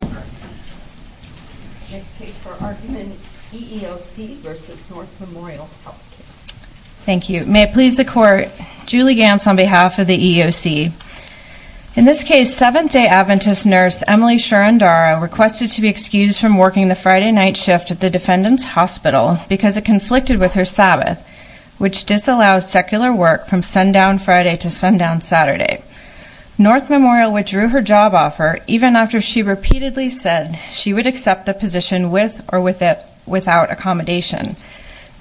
May it please the Court, Julie Gantz on behalf of the EEOC. In this case, Seventh-day Adventist nurse Emily Sharandara requested to be excused from working the Friday night shift at the defendant's hospital because it conflicted with her Sabbath, which disallows secular work from sundown Friday to sundown Saturday. North Memorial withdrew her job offer even after she repeatedly said she would accept the position with or without accommodation.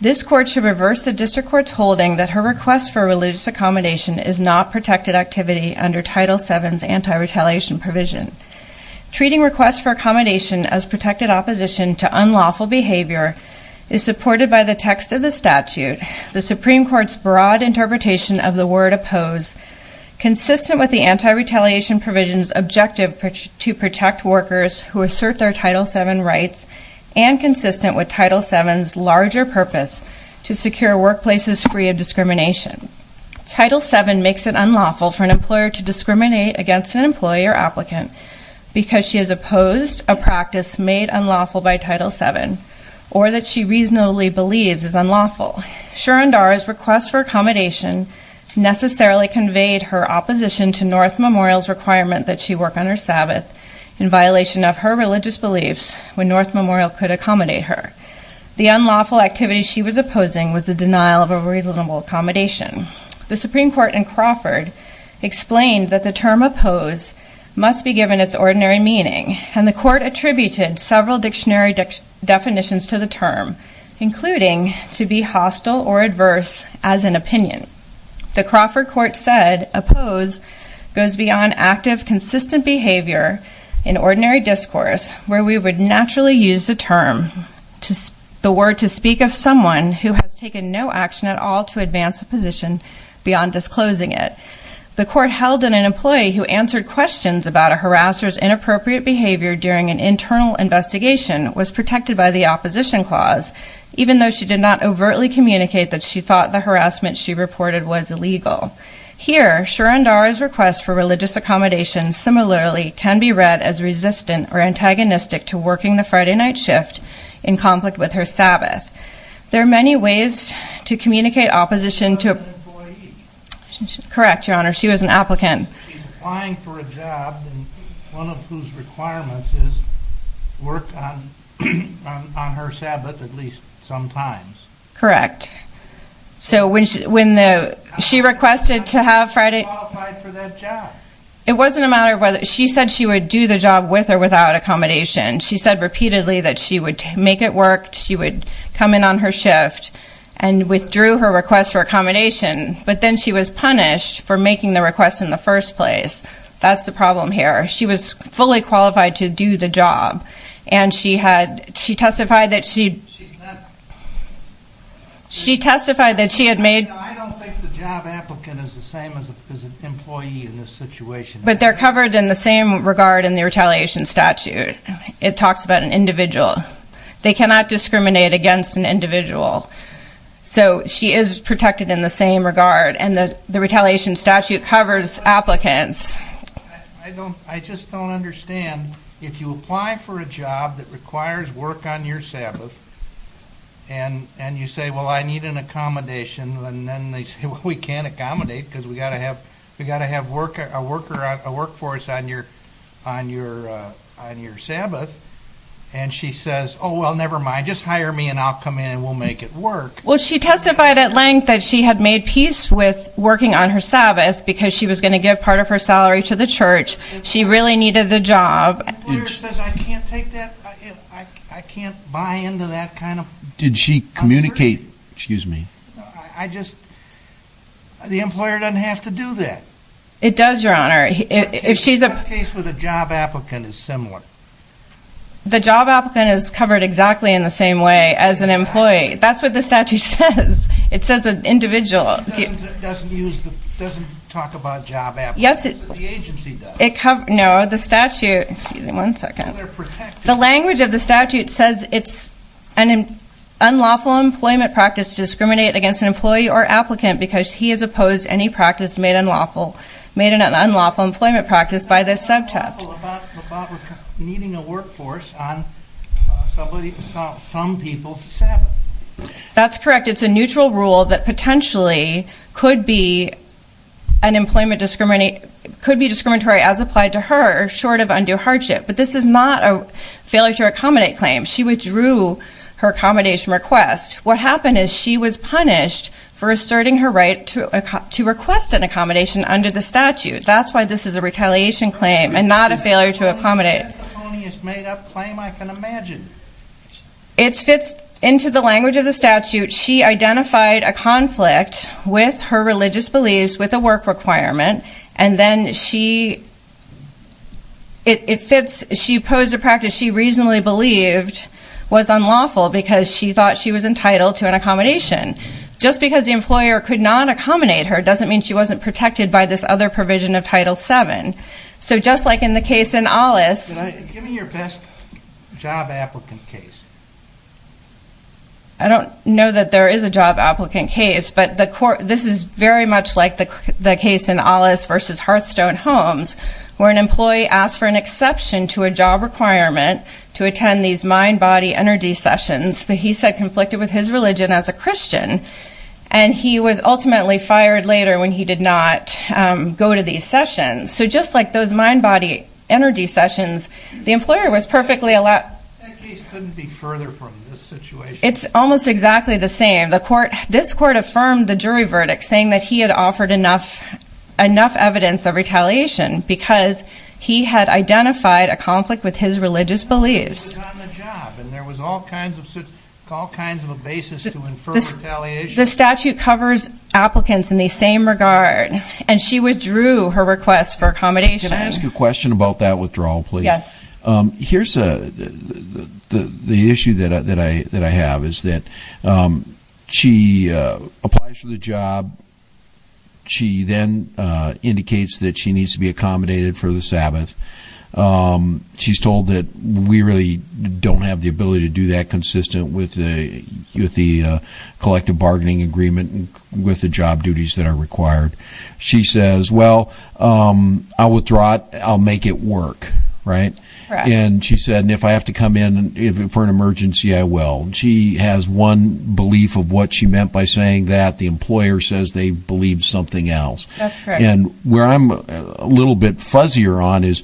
This Court should reverse the District Court's holding that her request for religious accommodation is not protected activity under Title VII's anti-retaliation provision. Treating requests for accommodation as protected opposition to unlawful behavior is supported by the text of the statute, the Supreme Court's broad interpretation of the word oppose, consistent with the anti-retaliation provision's objective to protect workers who assert their Title VII rights and consistent with Title VII's larger purpose to secure workplaces free of discrimination. Title VII makes it unlawful for an employer to discriminate against an employee or applicant because she has opposed a practice made unlawful by Title VII or that she reasonably believes is unlawful. Surendra's request for accommodation necessarily conveyed her opposition to North Memorial's requirement that she work on her Sabbath in violation of her religious beliefs when North Memorial could accommodate her. The unlawful activity she was opposing was the denial of a reasonable accommodation. The Supreme Court in Crawford explained that the term oppose must be given its ordinary meaning and the Court attributed several dictionary definitions to the term, including to be hostile or adverse as an opinion. The Crawford court said oppose goes beyond active consistent behavior in ordinary discourse where we would naturally use the term to the word to speak of someone who has taken no action at all to advance a position beyond disclosing it. The court held that an employee who answered questions about a harasser's inappropriate behavior during an internal investigation was protected by the opposition clause, even though she did not overtly communicate that she thought the harassment she reported was illegal. Here Surendra's request for religious accommodation similarly can be read as resistant or antagonistic to working the Friday night shift in conflict with her Sabbath. There are many ways to communicate opposition to correct your honor she was an applicant applying for a job and one of whose requirements is work on on her Sabbath at least sometimes correct so when she when the she requested to have Friday it wasn't a matter of whether she said she would do the job with or without accommodation she said repeatedly that she would make it work she would come in on her shift and withdrew her request for accommodation but then she was punished for making the request in the first place that's the problem here she was fully qualified to do the job and she had she testified that she she testified that she had made I don't think the job applicant is the same as an employee in this situation but they're covered in the same regard in the retaliation statute it talks about an individual they cannot discriminate against an individual so she is protected in the same regard and the the retaliation statute covers applicants I don't I just don't understand if you apply for a job that requires work on your Sabbath and and you say well I need an accommodation and then they say we can't accommodate because we got to have we got to have work a worker a workforce on your on your on your Sabbath and she says oh well never mind just hire me and I'll come in and we'll make it work well she testified at length that she had made peace with working on her Sabbath because she was going to give part of her salary to the church she really needed the job I can't take that I can't buy into did she communicate excuse me I just the employer doesn't have to do that it does your honor if she's a case with a job applicant is similar the job applicant is covered exactly in the same way as an employee that's what the statute says it says an individual doesn't use the doesn't talk about job yes it the agency does it cover no the statute excuse me one second the language of the an unlawful employment practice discriminate against an employee or applicant because he has opposed any practice made unlawful made an unlawful employment practice by this subtype needing a workforce on somebody some people's Sabbath that's correct it's a neutral rule that potentially could be an employment discriminate could be discriminatory as applied to her short of undue hardship but this is not a failure to accommodate claim she withdrew her accommodation request what happened is she was punished for asserting her right to to request an accommodation under the statute that's why this is a retaliation claim and not a failure to accommodate it's made up claim I can imagine it's fits into the language of the statute she identified a conflict with her religious beliefs with a work requirement and then she it fits she posed a practice she reasonably believed was unlawful because she thought she was entitled to an accommodation just because the employer could not accommodate her doesn't mean she wasn't protected by this other provision of title 7 so just like in the case in alice give me your best job applicant case I don't know that there is a job applicant case but the court this is very much like the case in alice versus hearthstone homes where an employee asked for an exception to a job requirement to attend these mind-body energy sessions that he said conflicted with his religion as a christian and he was ultimately fired later when he did not go to these sessions so just like those mind-body energy sessions the employer was perfectly allowed that case couldn't be further from this situation it's almost exactly the same the court this court affirmed the jury verdict saying that he had offered enough enough evidence of retaliation because he had identified a conflict with his religious beliefs on the job and there was all kinds of all kinds of a basis to infer retaliation the statute covers applicants in the same regard and she withdrew her request for accommodation can I ask you a question about that withdrawal please yes um here's a the the the issue that i that i that i have is that um she uh applies for the job she then uh indicates that she needs to be accommodated for the sabbath um she's told that we really don't have the ability to do that consistent with the with the uh collective bargaining agreement and with the job duties that are required she says well um i'll withdraw it i'll make it work right and she said and if i have to come in for an emergency i will she has one belief of what she meant by saying that the employer says they believe something else that's correct and where i'm a little bit fuzzier on is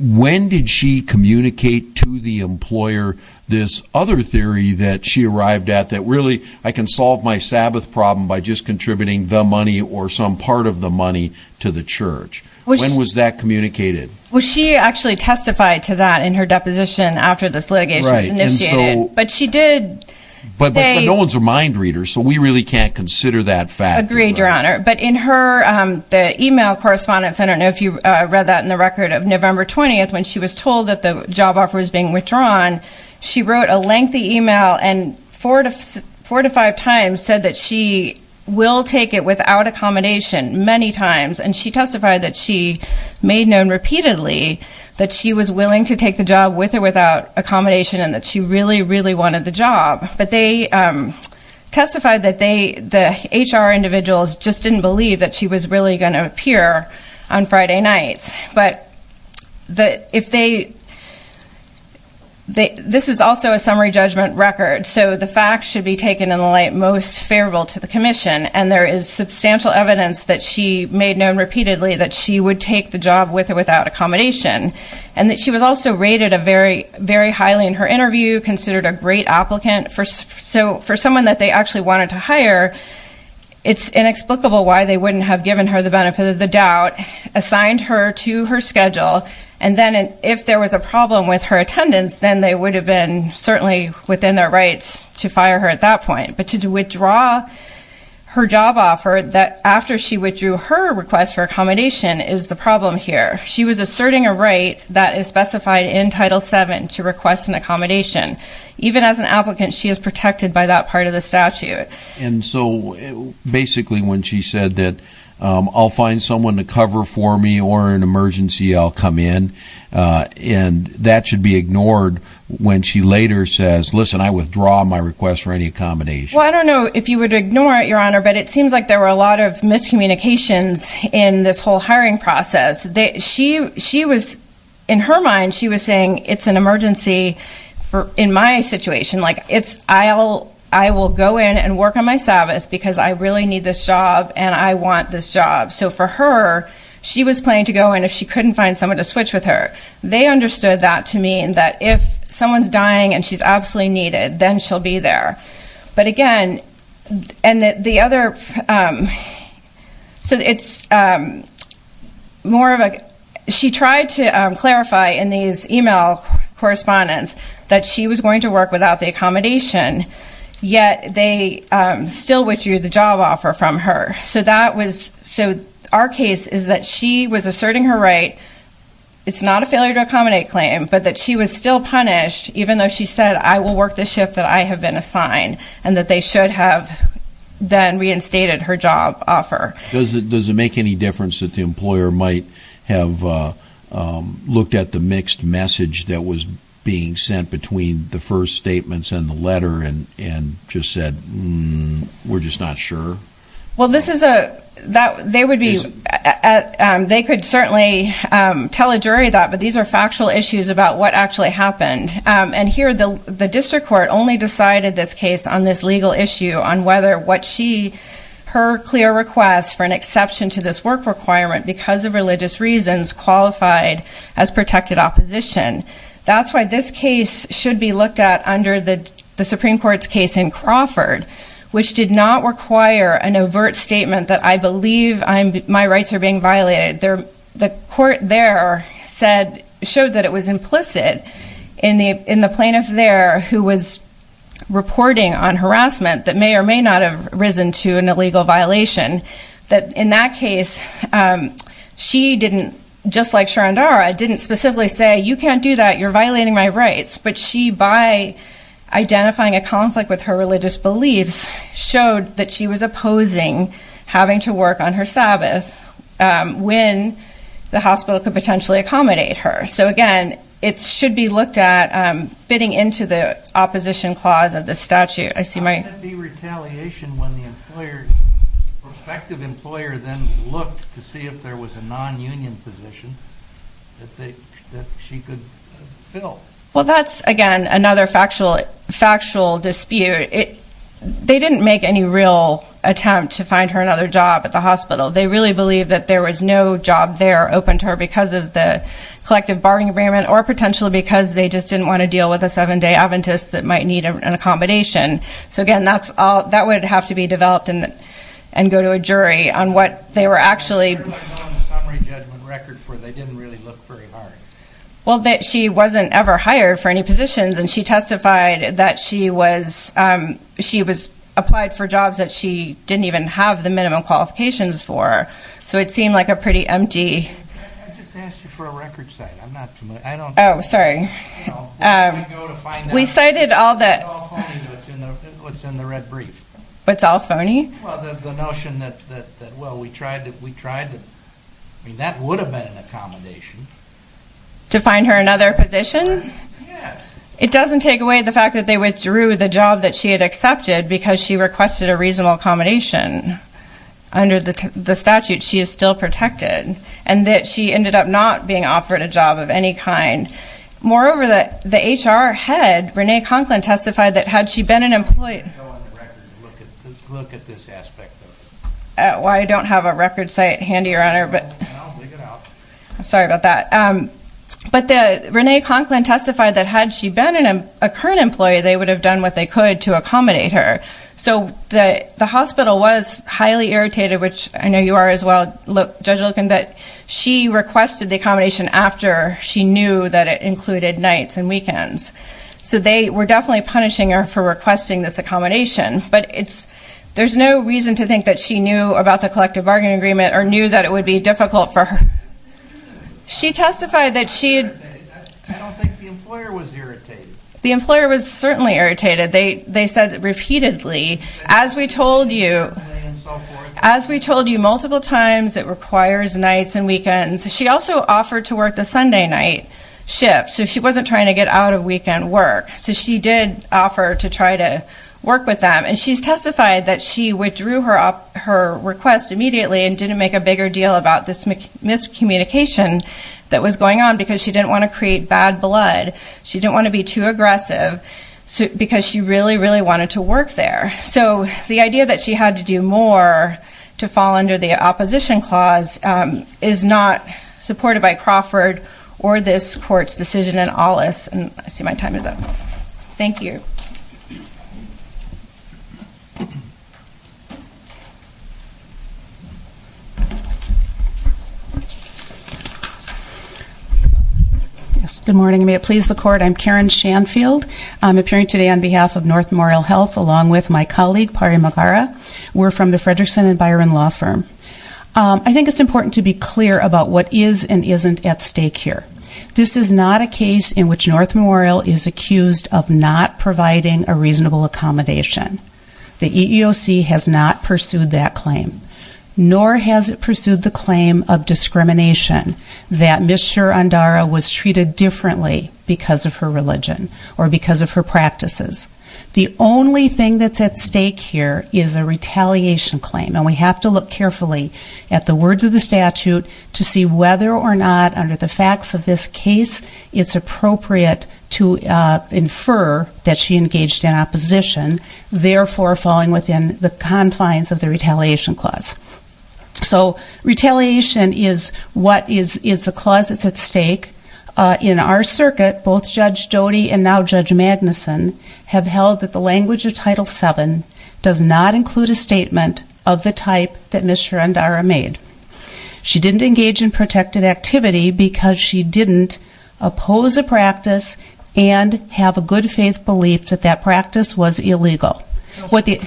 when did she communicate to the employer this other theory that she arrived at that really i can solve my sabbath problem by just contributing the money or some part of the money to the church when was that communicated well she actually testified to that in her deposition after this litigation was initiated but she did but but no one's a mind reader so we really can't consider that fact agreed your honor but in her um the email correspondence i don't know if you uh read that in the record of november 20th when she was told that the job offer was being withdrawn she wrote a lengthy email and four to four to five times said that she will take it without accommodation many times and she testified that she made known repeatedly that she was willing to take the job with or without accommodation and that she really really wanted the job but they um testified that they the hr individuals just didn't believe that she was really going to appear on friday nights but that if they they this is also a summary judgment record so the facts should be taken in the light most favorable to the commission and there is substantial evidence that she made known repeatedly that she would take the job with or without accommodation and that she was also rated a very very highly in her interview considered a great applicant for so for someone that they actually wanted to hire it's inexplicable why they wouldn't have given her the benefit of the doubt assigned her to her schedule and then if there was a problem with her attendance then they would have been certainly within their rights to fire her at that point but to withdraw her job offer that after she withdrew her request for accommodation is the problem here she was asserting a right that is specified in title 7 to request an accommodation even as an applicant she is protected by that part of the statute and so basically when she said that i'll find someone to cover for me or an emergency i'll come in and that should be ignored when she later says listen i withdraw my request for any accommodation well i don't know if you would ignore it your honor but it seems like there were a lot of miscommunications in this whole hiring process that she she was in her mind she was saying it's an emergency for in my situation like it's i'll i will go in and she was planning to go in if she couldn't find someone to switch with her they understood that to mean that if someone's dying and she's absolutely needed then she'll be there but again and the other um so it's um more of a she tried to um clarify in these email correspondence that she was going to work without the accommodation yet they um still withdrew the job offer from her so that was so our case is that she was asserting her right it's not a failure to accommodate claim but that she was still punished even though she said i will work the shift that i have been assigned and that they should have then reinstated her job offer does it does it make any difference that the employer might have uh um looked at the mixed message that was being sent between the first statements in the letter and and just said we're just not sure well this is a that they would be at um they could certainly um tell a jury that but these are factual issues about what actually happened um and here the the district court only decided this case on this legal issue on whether what she her clear request for an exception to this work requirement because of looked at under the the supreme court's case in Crawford which did not require an overt statement that i believe i'm my rights are being violated there the court there said showed that it was implicit in the in the plaintiff there who was reporting on harassment that may or may not have risen to an illegal violation that in that case um she didn't just like Sharandara didn't specifically say you can't do that you're violating my rights but she by identifying a conflict with her religious beliefs showed that she was opposing having to work on her sabbath um when the hospital could potentially accommodate her so again it should be looked at um fitting into the opposition clause of the statute i see my retaliation when the employer prospective employer then looked to she could fill well that's again another factual factual dispute it they didn't make any real attempt to find her another job at the hospital they really believe that there was no job there open to her because of the collective bargaining agreement or potentially because they just didn't want to deal with a seven-day adventist that might need an accommodation so again that's all that would have to be developed and and go to a jury on what they were actually summary judgment record for they didn't really look very hard well that she wasn't ever hired for any positions and she testified that she was um she was applied for jobs that she didn't even have the minimum qualifications for so it seemed like a pretty empty i just asked you for a record site i'm not familiar i don't oh sorry um we cited all that what's in the red brief what's well the notion that that well we tried that we tried to i mean that would have been an accommodation to find her another position yes it doesn't take away the fact that they withdrew the job that she had accepted because she requested a reasonable accommodation under the the statute she is still protected and that she ended up not being offered a job of any kind moreover that the look at this aspect why i don't have a record site handy around her but i'm sorry about that but the renee conklin testified that had she been in a current employee they would have done what they could to accommodate her so the the hospital was highly irritated which i know you are as well look judge looking that she requested the accommodation after she knew that it included nights and weekends so they were definitely punishing her for requesting this accommodation but it's there's no reason to think that she knew about the collective bargaining agreement or knew that it would be difficult for her she testified that she i don't think the employer was irritated the employer was certainly irritated they they said repeatedly as we told you as we told you multiple times it requires nights and weekends she also offered to work the sunday night shift so she wasn't trying to get out of weekend work so she did offer to try to work with she's testified that she withdrew her up her request immediately and didn't make a bigger deal about this miscommunication that was going on because she didn't want to create bad blood she didn't want to be too aggressive so because she really really wanted to work there so the idea that she had to do more to fall under the opposition clause is not supported by me good morning may it please the court i'm karen shanfield i'm appearing today on behalf of north memorial health along with my colleague pari magara we're from the frederickson and byron law firm i think it's important to be clear about what is and isn't at stake here this is not a case in which north memorial is accused of not providing a reasonable accommodation the eeoc has not pursued that claim nor has it pursued the claim of discrimination that miss sure andara was treated differently because of her religion or because of her practices the only thing that's at stake here is a retaliation claim and we have to look carefully at the words of the statute to see whether or not under the facts of this case it's appropriate to infer that she engaged in opposition therefore falling within the confines of the retaliation clause so retaliation is what is is the clause that's at stake uh in our circuit both judge jody and now judge magnuson have held that the language of title seven does not include a statement of the type that mr andara made she didn't engage in protected activity because she didn't oppose a practice and have a good faith belief that that practice was illegal what the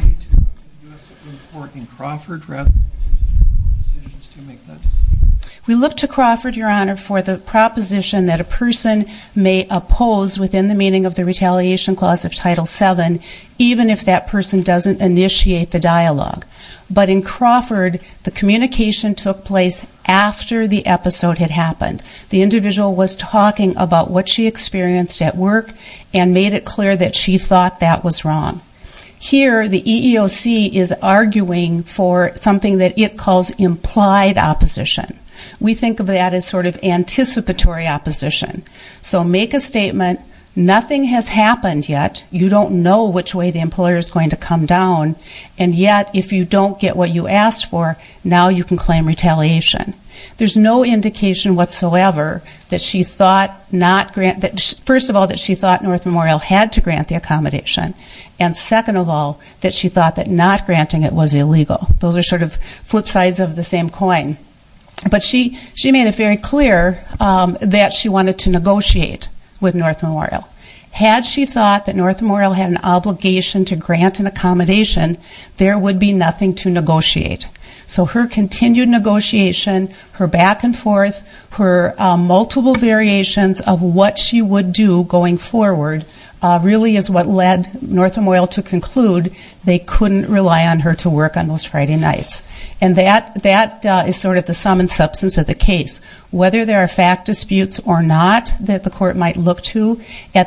we look to crawford your honor for the proposition that a person may oppose within the meaning of the retaliation clause of title seven even if that person doesn't initiate the dialogue but in took place after the episode had happened the individual was talking about what she experienced at work and made it clear that she thought that was wrong here the eeoc is arguing for something that it calls implied opposition we think of that as sort of anticipatory opposition so make a statement nothing has happened yet you don't know which way the employer is going to come and yet if you don't get what you asked for now you can claim retaliation there's no indication whatsoever that she thought not grant that first of all that she thought north memorial had to grant the accommodation and second of all that she thought that not granting it was illegal those are sort of flip sides of the same coin but she she made it very clear um that she wanted to negotiate with north memorial had she thought that north memorial had an obligation to grant an accommodation there would be nothing to negotiate so her continued negotiation her back and forth her multiple variations of what she would do going forward really is what led north memorial to conclude they couldn't rely on her to work on those friday nights and that that is sort of the sum and at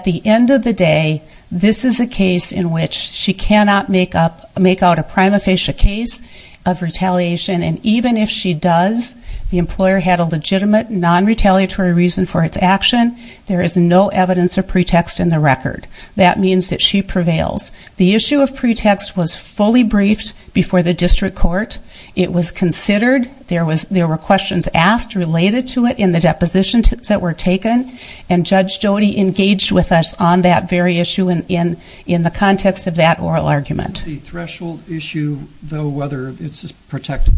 the end of the day this is a case in which she cannot make up make out a prima facie case of retaliation and even if she does the employer had a legitimate non-retaliatory reason for its action there is no evidence of pretext in the record that means that she prevails the issue of pretext was fully briefed before the district court it was considered there was there were questions asked related to it in the depositions that were taken and judge jody engaged with us on that very issue and in in the context of that oral argument the threshold issue though whether it's protected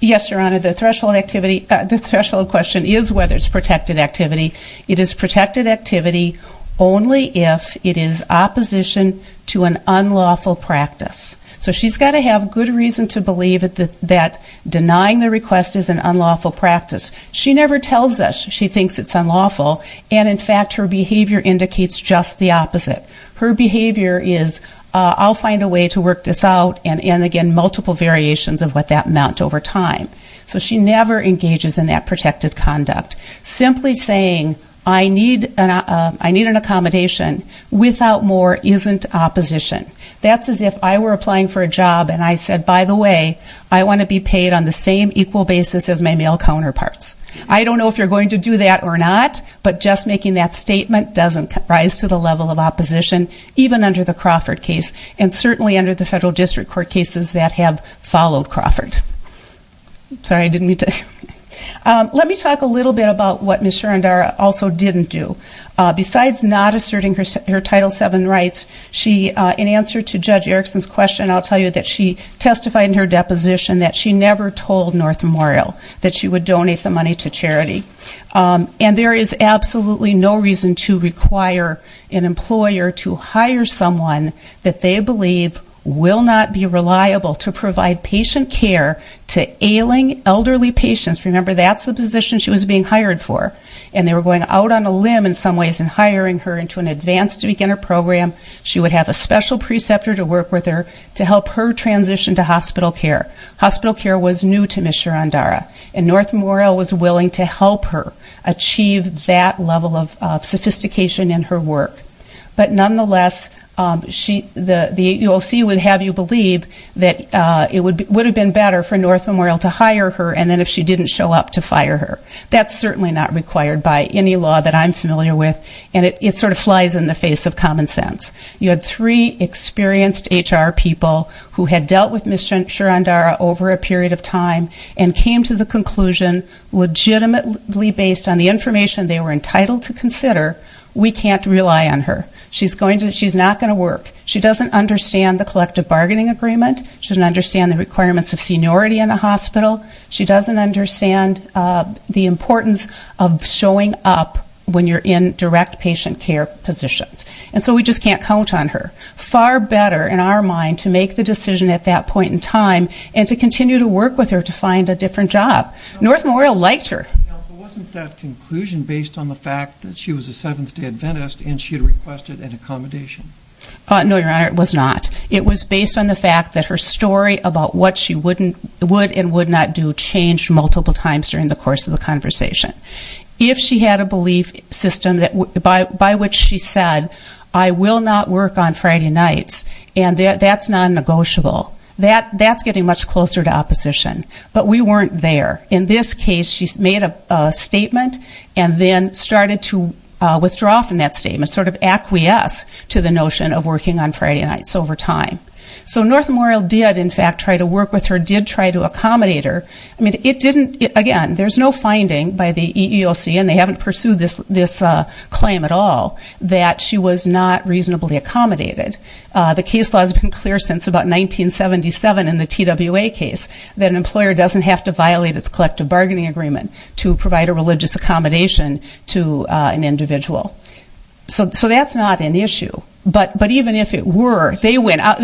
yes your honor the threshold activity the threshold question is whether it's protected activity it is protected activity only if it is opposition to an unlawful practice so she's got to have good reason to believe that that denying the request is an unlawful practice she never tells us she thinks it's unlawful and in fact her behavior indicates just the opposite her behavior is i'll find a way to work this out and and again multiple variations of what that meant over time so she never engages in that protected conduct simply saying i need an i need an accommodation without more isn't opposition that's as if i were applying for a job and i said by the way i want to be paid on the same equal basis as my male counterparts i don't know if you're going to do that or not but just making that statement doesn't rise to the level of opposition even under the Crawford case and certainly under the federal district court cases that have followed Crawford sorry i didn't mean to um let me talk a little bit about what mr and r also didn't do besides not asserting her title seven rights she in answer to judge erickson's question i'll tell you that she testified in her deposition that she never told north memorial that she would donate the money to charity and there is absolutely no reason to require an employer to hire someone that they believe will not be reliable to provide patient care to ailing elderly patients remember that's the position she was being hired for and they were going out on a limb in some ways in hiring her into an advanced beginner program she would have a special preceptor to work with her to help her transition to hospital care hospital care was new to mr and dara and north memorial was willing to help her achieve that level of sophistication in her work but nonetheless um she the the ulc would have you believe that uh it would would have been better for north memorial to hire her and then if she didn't show up to fire her that's certainly not required by any law that i'm familiar with and it sort of flies in the face of common sense you had three experienced hr people who had dealt with mr and r over a period of time and came to the conclusion legitimately based on the information they were entitled to consider we can't rely on her she's going to she's not going to work she doesn't understand the collective bargaining agreement she doesn't the requirements of seniority in the hospital she doesn't understand uh the importance of showing up when you're in direct patient care positions and so we just can't count on her far better in our mind to make the decision at that point in time and to continue to work with her to find a different job north memorial liked her wasn't that conclusion based on the fact that she was a seventh day Adventist and she had requested an accommodation uh no your honor it was not it was based on the story about what she wouldn't would and would not do change multiple times during the course of the conversation if she had a belief system that by by which she said i will not work on friday nights and that's non-negotiable that that's getting much closer to opposition but we weren't there in this case she's made a statement and then started to uh withdraw from that statement sort of acquiesce to the notion of working on friday nights over time so north memorial did in fact try to work with her did try to accommodate her i mean it didn't again there's no finding by the eeoc and they haven't pursued this this uh claim at all that she was not reasonably accommodated uh the case law has been clear since about 1977 in the twa case that an employer doesn't have to violate its collective bargaining agreement to provide a religious accommodation to uh an individual so so that's not an issue but but even if it were they went out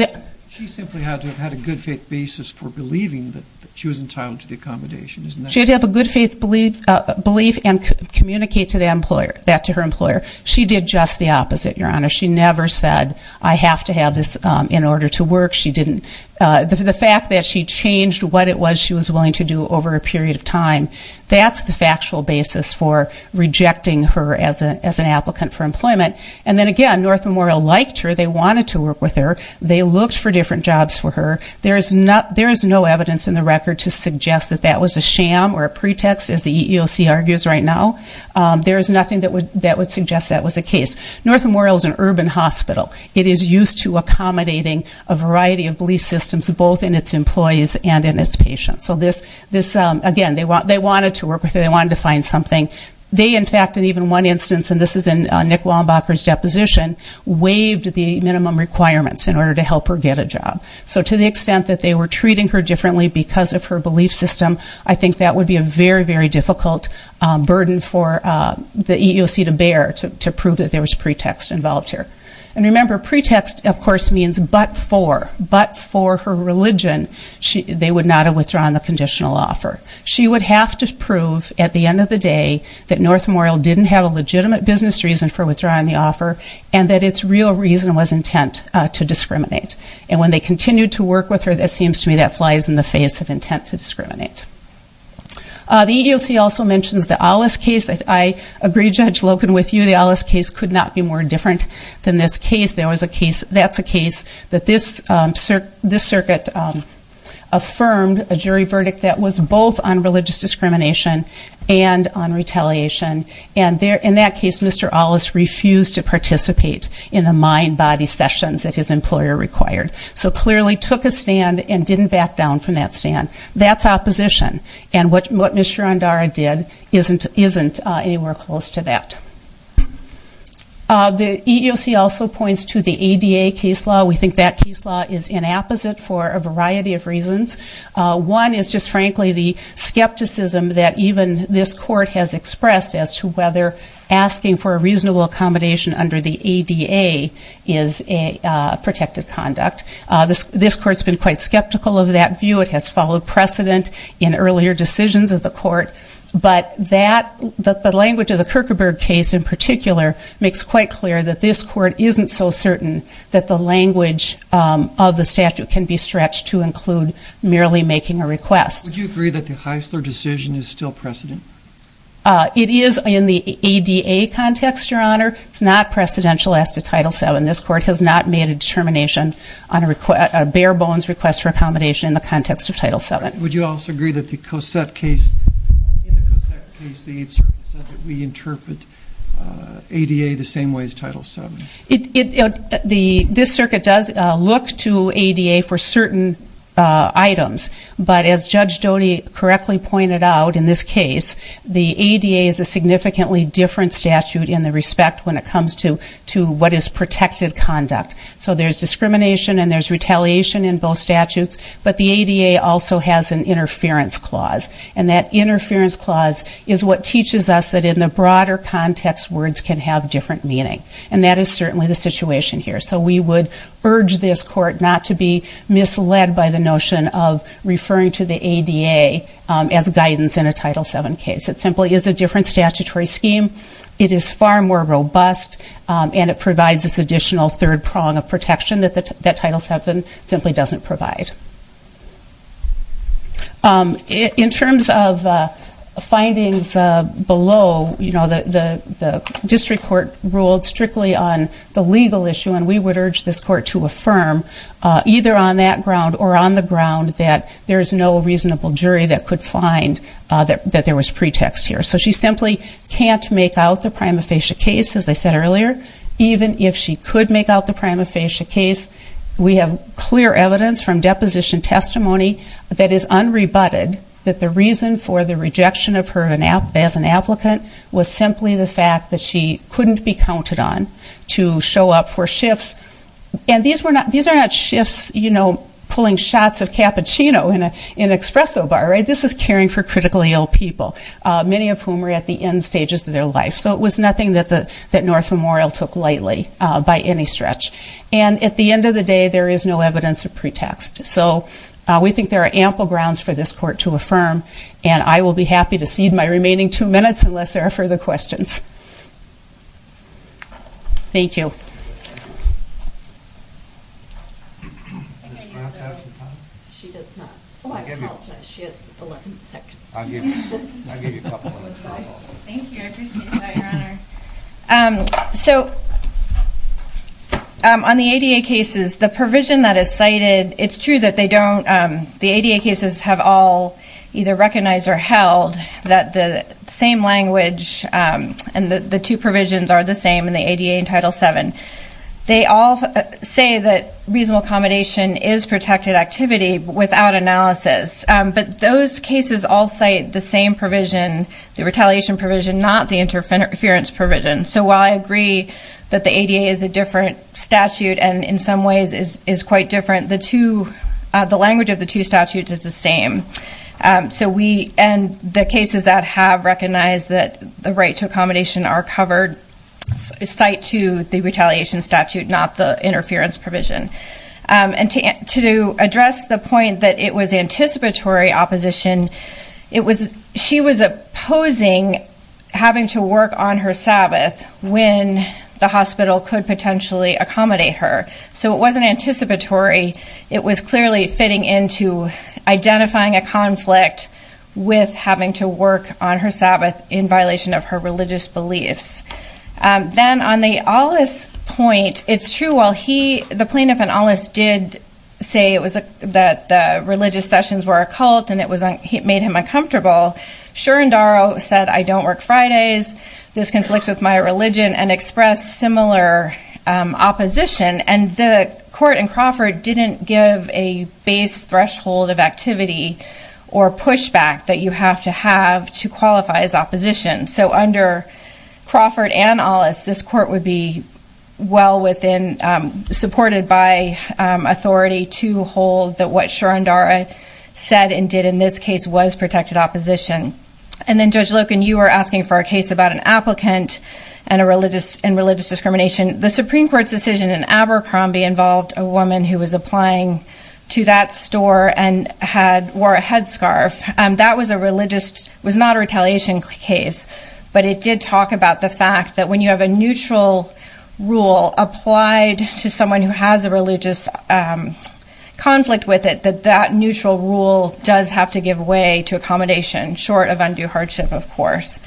she simply had to have had a good faith basis for believing that she was entitled to the accommodation she'd have a good faith belief belief and communicate to the employer that to her employer she did just the opposite your honor she never said i have to have this in order to work she didn't uh the fact that she changed what it was she was willing to do over a period of time that's the factual basis for rejecting her as a as an applicant for employment and then again north memorial liked her they wanted to work with her they looked for different jobs for her there is not there is no evidence in the record to suggest that that was a sham or a pretext as the eeoc argues right now um there is nothing that would that would suggest that was a case north memorial is an urban hospital it is used to accommodating a variety of belief systems both in its employees and in its patients so this this um again they want they wanted to work with wanted to find something they in fact in even one instance and this is in nick wallenbacher's deposition waived the minimum requirements in order to help her get a job so to the extent that they were treating her differently because of her belief system i think that would be a very very difficult burden for the eeoc to bear to prove that there was pretext involved here and remember pretext of course means but for but for her religion she they would not have withdrawn the at the end of the day that north memorial didn't have a legitimate business reason for withdrawing the offer and that its real reason was intent to discriminate and when they continued to work with her that seems to me that flies in the face of intent to discriminate the eeoc also mentions the alice case i agree judge logan with you the alice case could not be more different than this case there was a case that's a case that this um this circuit um affirmed a jury discrimination and on retaliation and there in that case mr alice refused to participate in the mind body sessions that his employer required so clearly took a stand and didn't back down from that stand that's opposition and what mr andara did isn't isn't anywhere close to that uh the eeoc also points to the ada case law we think that case law is inapposite for a variety of reasons one is just frankly the skepticism that even this court has expressed as to whether asking for a reasonable accommodation under the ada is a protected conduct this this court's been quite skeptical of that view it has followed precedent in earlier decisions of the court but that the language of the kirkeberg case in particular makes quite clear that this court isn't so certain that the language of the statute can be stretched to include merely making a request would you agree that the heisler decision is still precedent uh it is in the ada context your honor it's not precedential as to title seven this court has not made a determination on a request a bare bones request for accommodation in the context of title seven would you also agree that the cosette case in the cosette case the eighth circuit said that we interpret ada the same way as title seven it it the this circuit does uh look to ada for certain uh items but as judge dhoni correctly pointed out in this case the ada is a significantly different statute in the respect when it comes to to what is protected conduct so there's discrimination and there's retaliation in both statutes but the ada also has an interference clause and that interference clause is what teaches us that in the broader context words can have different meaning and that is certainly the situation here so we would urge this court not to be misled by the notion of referring to the ada as guidance in a title seven case it simply is a different statutory scheme it is far more robust and it provides this additional third prong of protection that the that title seven simply doesn't provide um in terms of uh findings uh below you know the the the district court ruled strictly on the legal issue and we would urge this court to affirm uh either on that ground or on the ground that there is no reasonable jury that could find uh that that there was pretext here so she simply can't make out the prima facie case as i said earlier even if she could make out the prima facie case we have clear evidence from deposition testimony that is unrebutted that the reason for the rejection of her as an applicant was simply the fact that she couldn't be counted on to show up for shifts and these were not these are not shifts you know pulling shots of cappuccino in a espresso bar right this is caring for critically ill people uh many of whom were at the end stages of their life so it was nothing that the that north memorial took lightly uh by any stretch and at the end of the day there is no evidence of pretext so we think there are ample grounds for this court to affirm and i will be happy to cede my remaining two minutes unless there are further questions. Thank you. So um on the ADA cases the provision that is cited it's true that they don't um the ADA cases have all either recognized or held that the same language um and the the two provisions are the same in the ADA in title 7. They all say that reasonable accommodation is protected activity without analysis um but those cases all cite the same provision the retaliation provision not the interference provision so while i agree that the ADA is a different statute and in some ways is the same um so we and the cases that have recognized that the right to accommodation are covered cite to the retaliation statute not the interference provision um and to to address the point that it was anticipatory opposition it was she was opposing having to work on her sabbath when the hospital could potentially accommodate her so it wasn't anticipatory it was clearly fitting into identifying a conflict with having to work on her sabbath in violation of her religious beliefs um then on the all this point it's true while he the plaintiff and alice did say it was a that the religious sessions were occult and it was he made him uncomfortable sure and daro said i don't work fridays this conflicts with my religion and expressed similar opposition and the court in Crawford didn't give a base threshold of activity or pushback that you have to have to qualify as opposition so under Crawford and all this this court would be well within um supported by um authority to hold that what sharon dara said and did in this case was protected opposition and then judge locan you are asking for a case about an applicant and a religious and religious discrimination the supreme court's decision in Abercrombie involved a woman who was applying to that store and had wore a headscarf and that was a religious was not a retaliation case but it did talk about the fact that when you have a neutral rule applied to someone who has a religious um conflict with it that that neutral rule does have to give way to accommodation short of undue hardship of course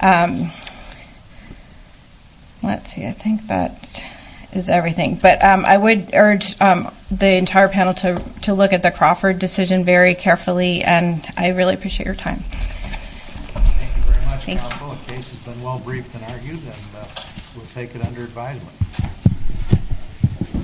um let's see i think that is everything but um i would urge um the entire panel to to look at the Crawford decision very carefully and i really appreciate your time thank you very much counsel the case has been well briefed and argued and we'll take it under advisement